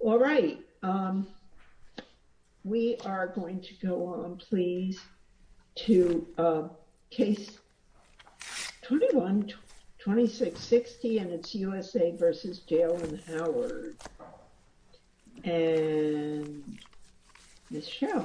Alright, we are going to go on, please, to Case 21-2660 and it's USA v. Jalen Howard and Ms. Shell.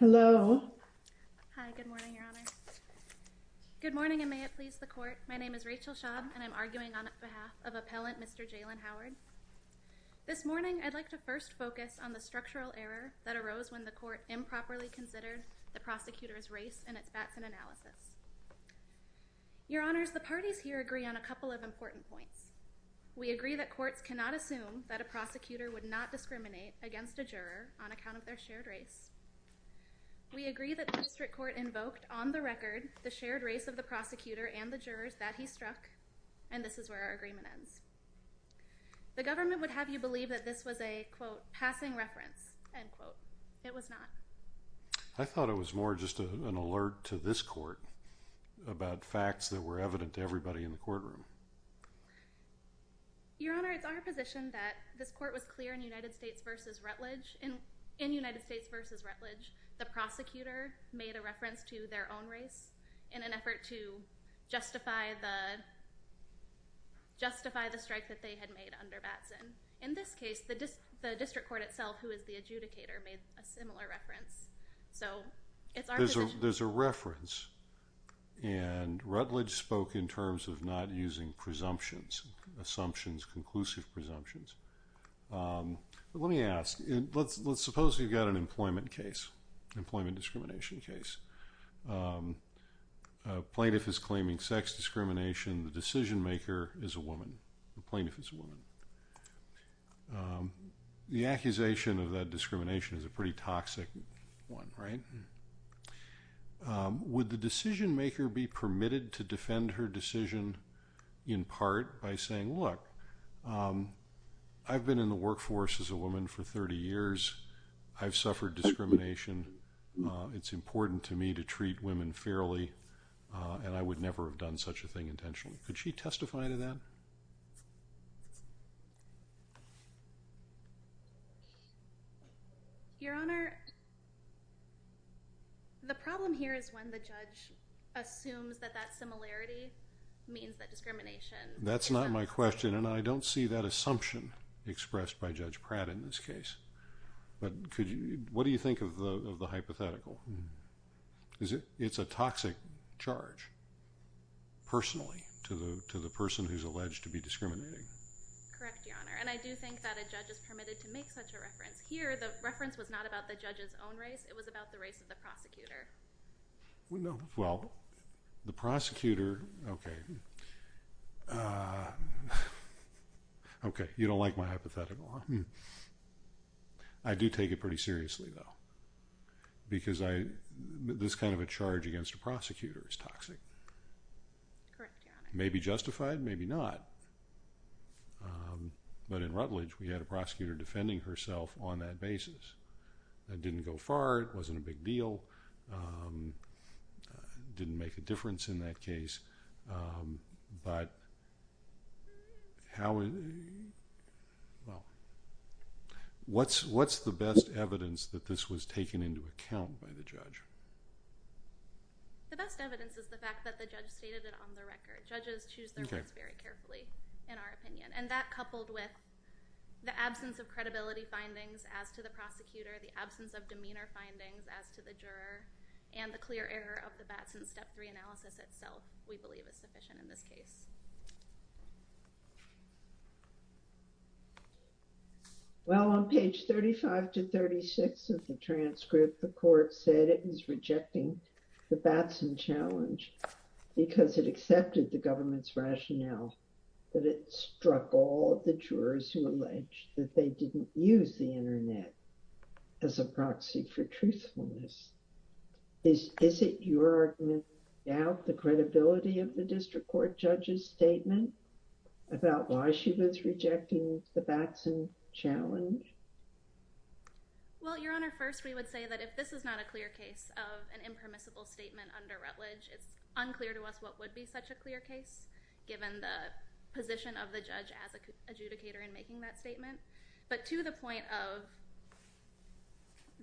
Hello. Hi, good morning, Your Honor. Good morning, and may it please the Court. My name is Rachel Schaub and I'm arguing on behalf of Appellant Mr. Jalen Howard. This morning I'd like to first focus on the structural error that arose when the Court improperly considered the prosecutor's race in its Batson analysis. Your Honors, the parties here agree on a couple of important points. We agree that courts cannot assume that a prosecutor would not discriminate against a juror on account of their shared race. We agree that the District Court invoked, on the record, the shared race of the prosecutor and the jurors that he struck, and this is where our agreement ends. The government would have you believe that this was a, quote, passing reference, end quote. It was not. I thought it was more just an alert to this Court about facts that were evident to everybody in the courtroom. Your Honor, it's our position that this Court was clear in United States v. Rutledge, in United States v. Rutledge, the prosecutor made a reference to their own race in an effort to justify the, justify the strike that they had made under Batson. In this case, the District Court itself, who is the adjudicator, made a similar reference, so it's our position. There's a reference, and Rutledge spoke in terms of not using presumptions, assumptions, conclusive presumptions. Let me ask, let's suppose you've got an employment case, employment discrimination case. A plaintiff is claiming sex discrimination. The decision-maker is a woman, the plaintiff is a woman. The accusation of that discrimination is a pretty toxic one, right? Would the decision-maker be permitted to defend her decision in part by saying, look, I've been in the workforce as a woman for 30 years. I've suffered discrimination. It's important to me to treat women fairly, and I would never have done such a thing intentionally. Could she testify to that? Your Honor, the problem here is when the judge assumes that that similarity means that discrimination... That's not my question, and I don't see that assumption expressed by Judge Pratt in this case. But could you, what do you think of the hypothetical? It's a toxic charge, personally, to the person who's alleged to be discriminating. Correct, Your Honor, and I do think that a judge is permitted to make such a reference. Here, the reference was not about the judge's own race, it was about the race of the prosecutor. Well, the prosecutor, okay. Okay, you don't like my hypothetical, huh? I do take it pretty seriously, though, because this kind of a charge against a prosecutor is toxic. Correct, Your Honor. Maybe justified, maybe not. But in Rutledge, we had a prosecutor defending herself on that basis. That didn't go far, it wasn't a big deal, didn't make a difference in that case. But how, well, what's the best evidence that this was taken into account by the judge? The best evidence is the fact that the judge stated it on the record. Judges choose their words very carefully, in our opinion. And that, coupled with the absence of credibility findings as to the prosecutor, the absence of demeanor findings as to the juror, and the clear error of the Batson Step 3 analysis itself, we believe is sufficient in this case. Well, on page 35 to 36 of the transcript, the court said it was rejecting the Batson challenge because it accepted the government's rationale that it struck all of the jurors who alleged that they didn't use the Internet as a proxy for truthfulness. Is it your argument to doubt the credibility of the district court judge's statement about why she was rejecting the Batson challenge? Well, Your Honor, first we would say that if this is not a clear case of an impermissible statement under Rutledge, it's unclear to us what would be such a clear case, given the position of the judge as adjudicator in making that statement. But to the point of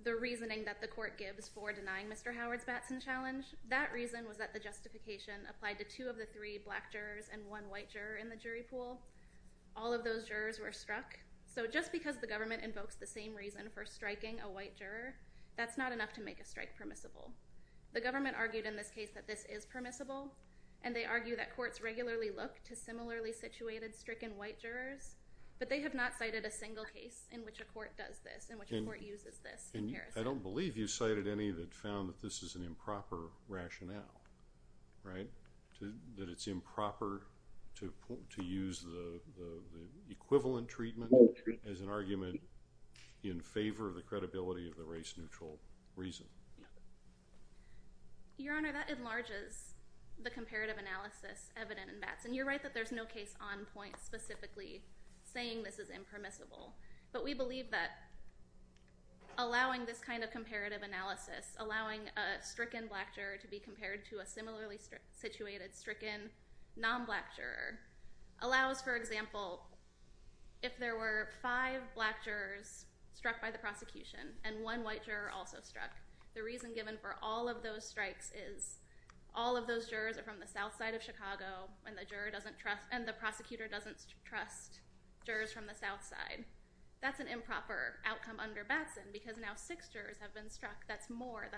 the reasoning that the court gives for denying Mr. Howard's Batson challenge, that reason was that the justification applied to two of the three black jurors and one white juror in the jury pool. All of those jurors were struck. So just because the government invokes the same reason for striking a white juror, that's not enough to make a strike permissible. The government argued in this case that this is permissible, and they argue that courts regularly look to similarly situated stricken white jurors, but they have not cited a single case in which a court does this, in which a court uses this. I don't believe you cited any that found that this is an improper rationale, right? That it's improper to use the equivalent treatment as an argument in favor of the credibility of the race-neutral reason. Your Honor, that enlarges the comparative analysis evident in Batson. You're right that there's no case on point specifically saying this is impermissible, but we believe that allowing this kind of comparative analysis, allowing a stricken black juror to be compared to a similarly situated stricken non-black juror, allows, for example, if there were five black jurors struck by the prosecution and one white juror also struck, the reason given for all of those strikes is all of those jurors are from the south side of Chicago, and the prosecutor doesn't trust jurors from the south side. That's an improper outcome under Batson because now six jurors have been struck. That's more.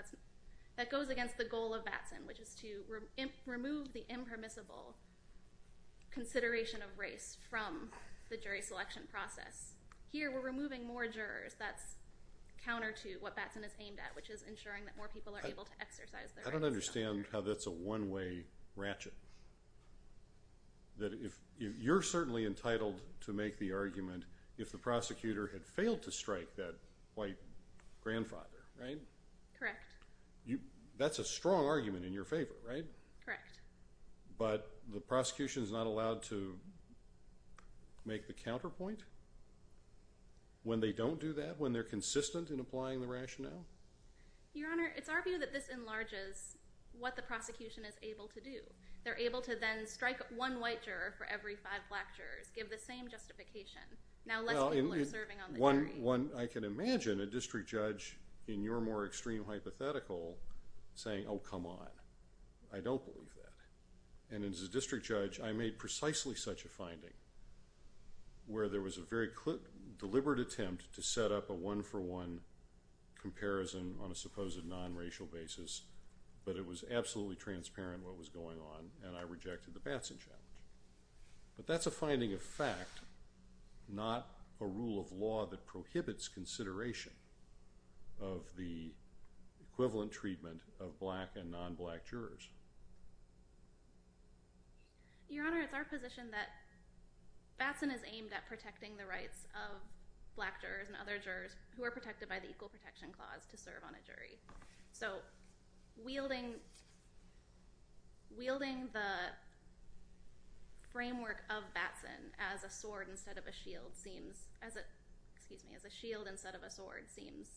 That goes against the goal of Batson, which is to remove the impermissible consideration of race from the jury selection process. Here, we're removing more jurors. That's counter to what Batson is aimed at, which is ensuring that more people are able to exercise their rights. I don't understand how that's a one-way ratchet. You're certainly entitled to make the argument if the prosecutor had failed to strike that white grandfather, right? Correct. That's a strong argument in your favor, right? Correct. But the prosecution is not allowed to make the counterpoint when they don't do that, when they're consistent in applying the rationale? Your Honor, it's our view that this enlarges what the prosecution is able to do. They're able to then strike one white juror for every five black jurors, give the same justification. Now, less people are serving on the jury. I can imagine a district judge in your more extreme hypothetical saying, oh, come on, I don't believe that. And as a district judge, I made precisely such a finding where there was a very deliberate attempt to set up a one-for-one comparison on a supposed non-racial basis, but it was absolutely transparent what was going on, and I rejected the Batson challenge. But that's a finding of fact, not a rule of law that prohibits consideration of the equivalent treatment of black and non-black jurors. Your Honor, it's our position that Batson is aimed at protecting the rights of black jurors and other jurors who are protected by the Equal Protection Clause to serve on a jury. So wielding the framework of Batson as a shield instead of a sword seems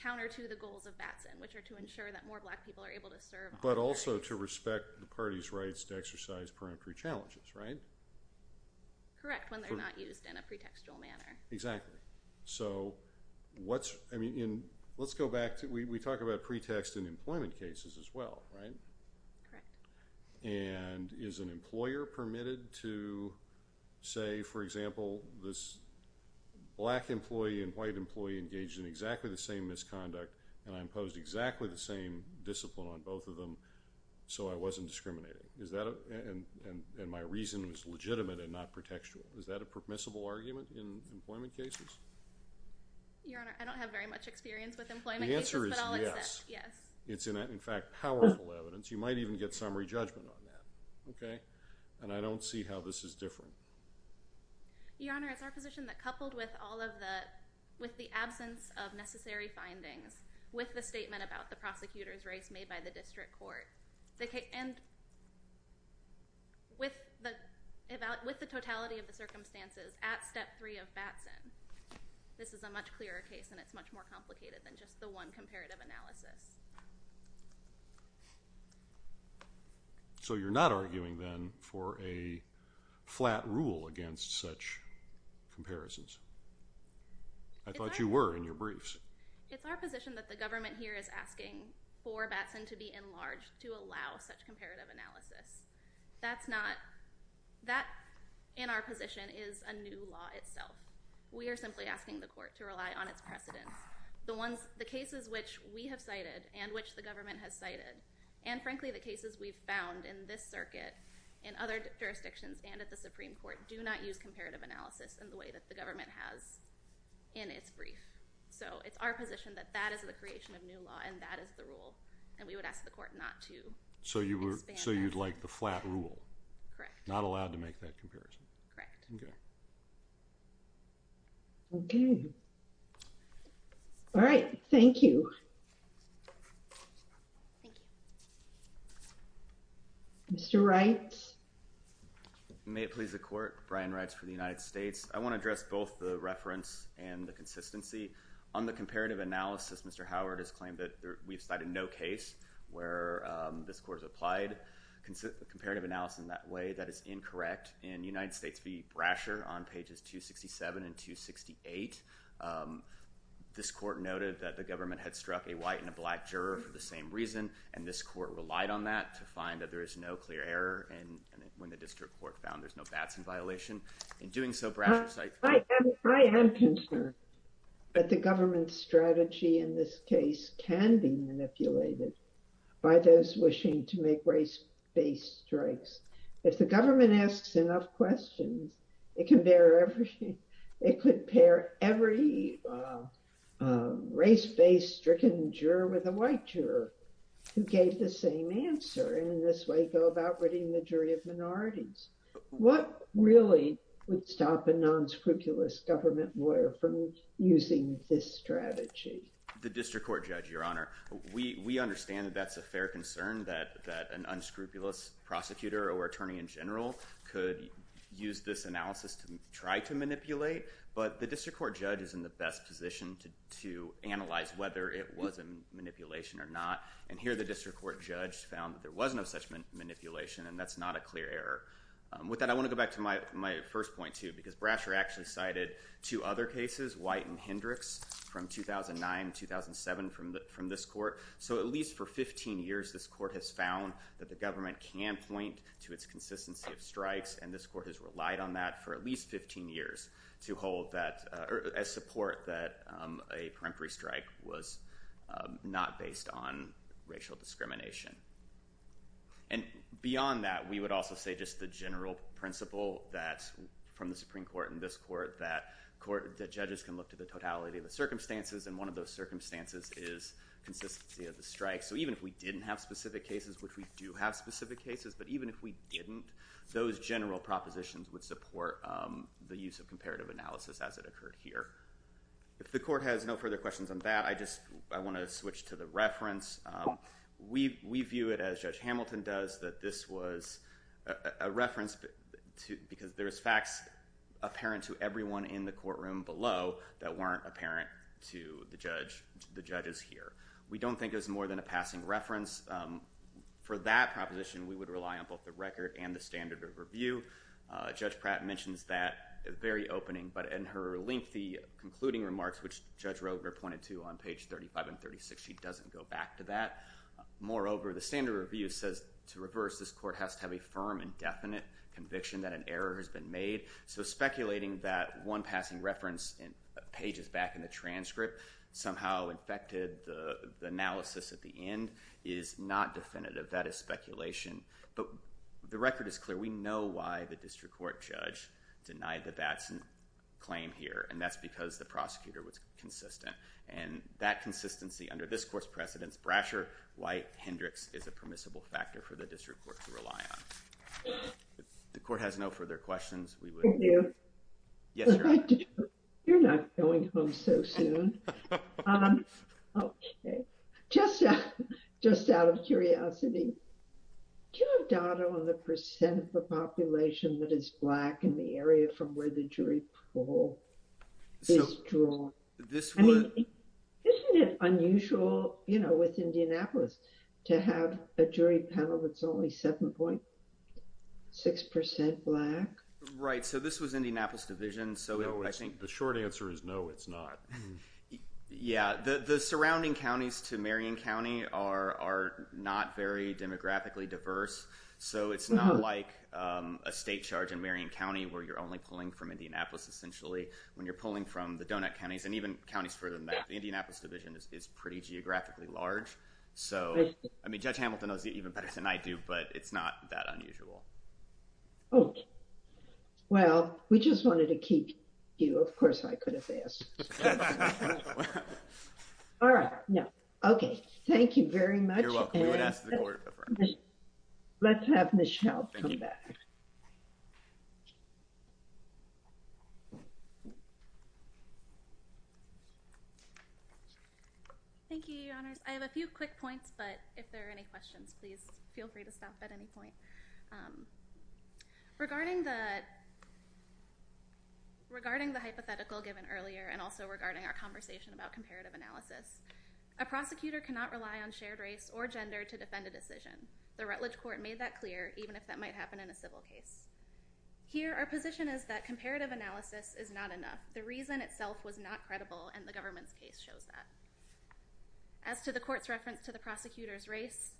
counter to the goals of Batson, which are to ensure that more black people are able to serve on the jury. But also to respect the party's rights to exercise peremptory challenges, right? Correct, when they're not used in a pretextual manner. Exactly. So let's go back. We talk about pretext in employment cases as well, right? Correct. And is an employer permitted to say, for example, this black employee and white employee engaged in exactly the same misconduct and I imposed exactly the same discipline on both of them so I wasn't discriminating? And my reason was legitimate and not pretextual. Is that a permissible argument in employment cases? Your Honor, I don't have very much experience with employment cases, but I'll accept, yes. The answer is yes. It's in fact powerful evidence. You might even get summary judgment on that, okay? And I don't see how this is different. Your Honor, it's our position that coupled with the absence of necessary findings, with the statement about the prosecutor's race made by the district court, and with the totality of the circumstances at Step 3 of Batson, this is a much clearer case and it's much more complicated than just the one comparative analysis. So you're not arguing then for a flat rule against such comparisons? I thought you were in your briefs. It's our position that the government here is asking for Batson to be enlarged to allow such comparative analysis. That's not – that in our position is a new law itself. We are simply asking the court to rely on its precedence. The cases which we have cited and which the government has cited, and frankly the cases we've found in this circuit and other jurisdictions and at the Supreme Court do not use comparative analysis in the way that the government has in its brief. So it's our position that that is the creation of new law and that is the rule, and we would ask the court not to expand it. So you'd like the flat rule? Correct. Not allowed to make that comparison? Correct. Okay. Okay. All right. Thank you. Thank you. Mr. Wright. May it please the court. Brian Wright for the United States. I want to address both the reference and the consistency. On the comparative analysis, Mr. Howard has claimed that we've cited no case where this court has applied comparative analysis in that way. That is incorrect. In fact, in United States v. Brasher on pages 267 and 268, this court noted that the government had struck a white and a black juror for the same reason, and this court relied on that to find that there is no clear error, and when the district court found there's no bats in violation. In doing so, Brasher cited- I am concerned that the government's strategy in this case can be manipulated by those wishing to make race-based strikes. If the government asks enough questions, it can bear every- it could pair every race-based stricken juror with a white juror who gave the same answer, and in this way go about ridding the jury of minorities. What really would stop a non-scrupulous government lawyer from using this strategy? The district court, Judge, Your Honor, we understand that that's a fair concern that an unscrupulous prosecutor or attorney in general could use this analysis to try to manipulate, but the district court judge is in the best position to analyze whether it was a manipulation or not, and here the district court judge found that there was no such manipulation, and that's not a clear error. With that, I want to go back to my first point, too, because Brasher actually cited two other cases, White and Hendricks, from 2009-2007 from this court, so at least for 15 years this court has found that the government can point to its consistency of strikes, and this court has relied on that for at least 15 years to hold that- as support that a peremptory strike was not based on racial discrimination. And beyond that, we would also say just the general principle from the Supreme Court and this court that judges can look to the totality of the circumstances, and one of those circumstances is consistency of the strike, so even if we didn't have specific cases, which we do have specific cases, but even if we didn't, those general propositions would support the use of comparative analysis as it occurred here. If the court has no further questions on that, I want to switch to the reference. We view it, as Judge Hamilton does, that this was a reference because there is facts apparent to everyone in the courtroom below that weren't apparent to the judges here. We don't think it was more than a passing reference. For that proposition, we would rely on both the record and the standard of review. Judge Pratt mentions that at the very opening, but in her lengthy concluding remarks, which Judge Roger pointed to on page 35 and 36, she doesn't go back to that. Moreover, the standard of review says, to reverse, this court has to have a firm and definite conviction that an error has been made, so speculating that one passing reference pages back in the transcript somehow affected the analysis at the end is not definitive. That is speculation, but the record is clear. We know why the district court judge denied the Batson claim here, and that's because the prosecutor was consistent. That consistency, under this court's precedence, Brasher, White, Hendricks, is a permissible factor for the district court to rely on. If the court has no further questions, we would— Thank you. Yes, ma'am. You're not going home so soon. Okay. Just out of curiosity, do you have data on the percent of the population that is Black in the area from where the jury poll is drawn? I mean, isn't it unusual, you know, with Indianapolis to have a jury panel that's only 7.6% Black? Right. So this was Indianapolis Division, so I think the short answer is no, it's not. Yeah, the surrounding counties to Marion County are not very demographically diverse, so it's not like a state charge in Marion County where you're only pulling from Indianapolis, essentially, when you're pulling from the donut counties and even counties further than that. The Indianapolis Division is pretty geographically large. So, I mean, Judge Hamilton knows it even better than I do, but it's not that unusual. Okay. Well, we just wanted to keep you. Of course, I could have asked. All right. Okay. Thank you very much. You're welcome. We would ask the court. Let's have Michelle come back. Thank you, Your Honors. I have a few quick points, but if there are any questions, please feel free to stop at any point. Regarding the hypothetical given earlier and also regarding our conversation about comparative analysis, a prosecutor cannot rely on shared race or gender to defend a decision. The Rutledge Court made that clear, even if that might happen in a civil case. Here, our position is that comparative analysis is not enough. The reason itself was not credible, and the government's case shows that. As to the court's reference to the prosecutor's race,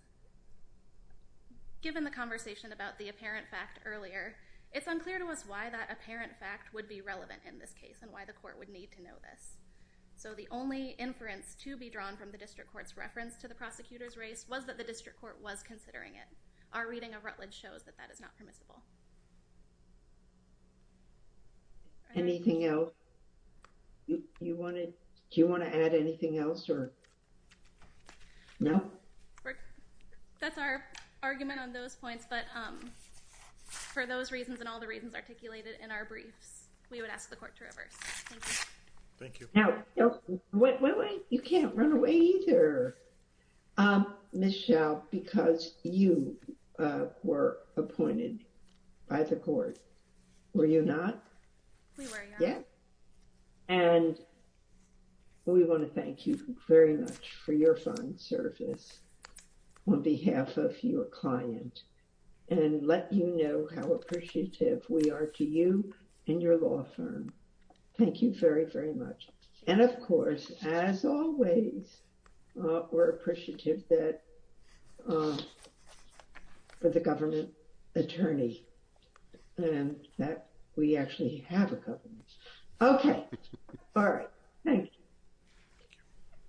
given the conversation about the apparent fact earlier, it's unclear to us why that apparent fact would be relevant in this case and why the court would need to know this. So, the only inference to be drawn from the district court's reference to the prosecutor's race was that the district court was considering it. Our reading of Rutledge shows that that is not permissible. Anything else? Do you want to add anything else? No? That's our argument on those points, but for those reasons and all the reasons articulated in our briefs, we would ask the court to reverse. Thank you. Thank you. Wait, wait, wait. You can't run away either, Michelle, because you were appointed by the court. Were you not? We were, Your Honor. Yeah. And we want to thank you very much for your fine service on behalf of your client and let you know how appreciative we are to you and your law firm. Thank you very, very much. And, of course, as always, we're appreciative for the government attorney and that we actually have a government attorney. Okay. All right. Thank you.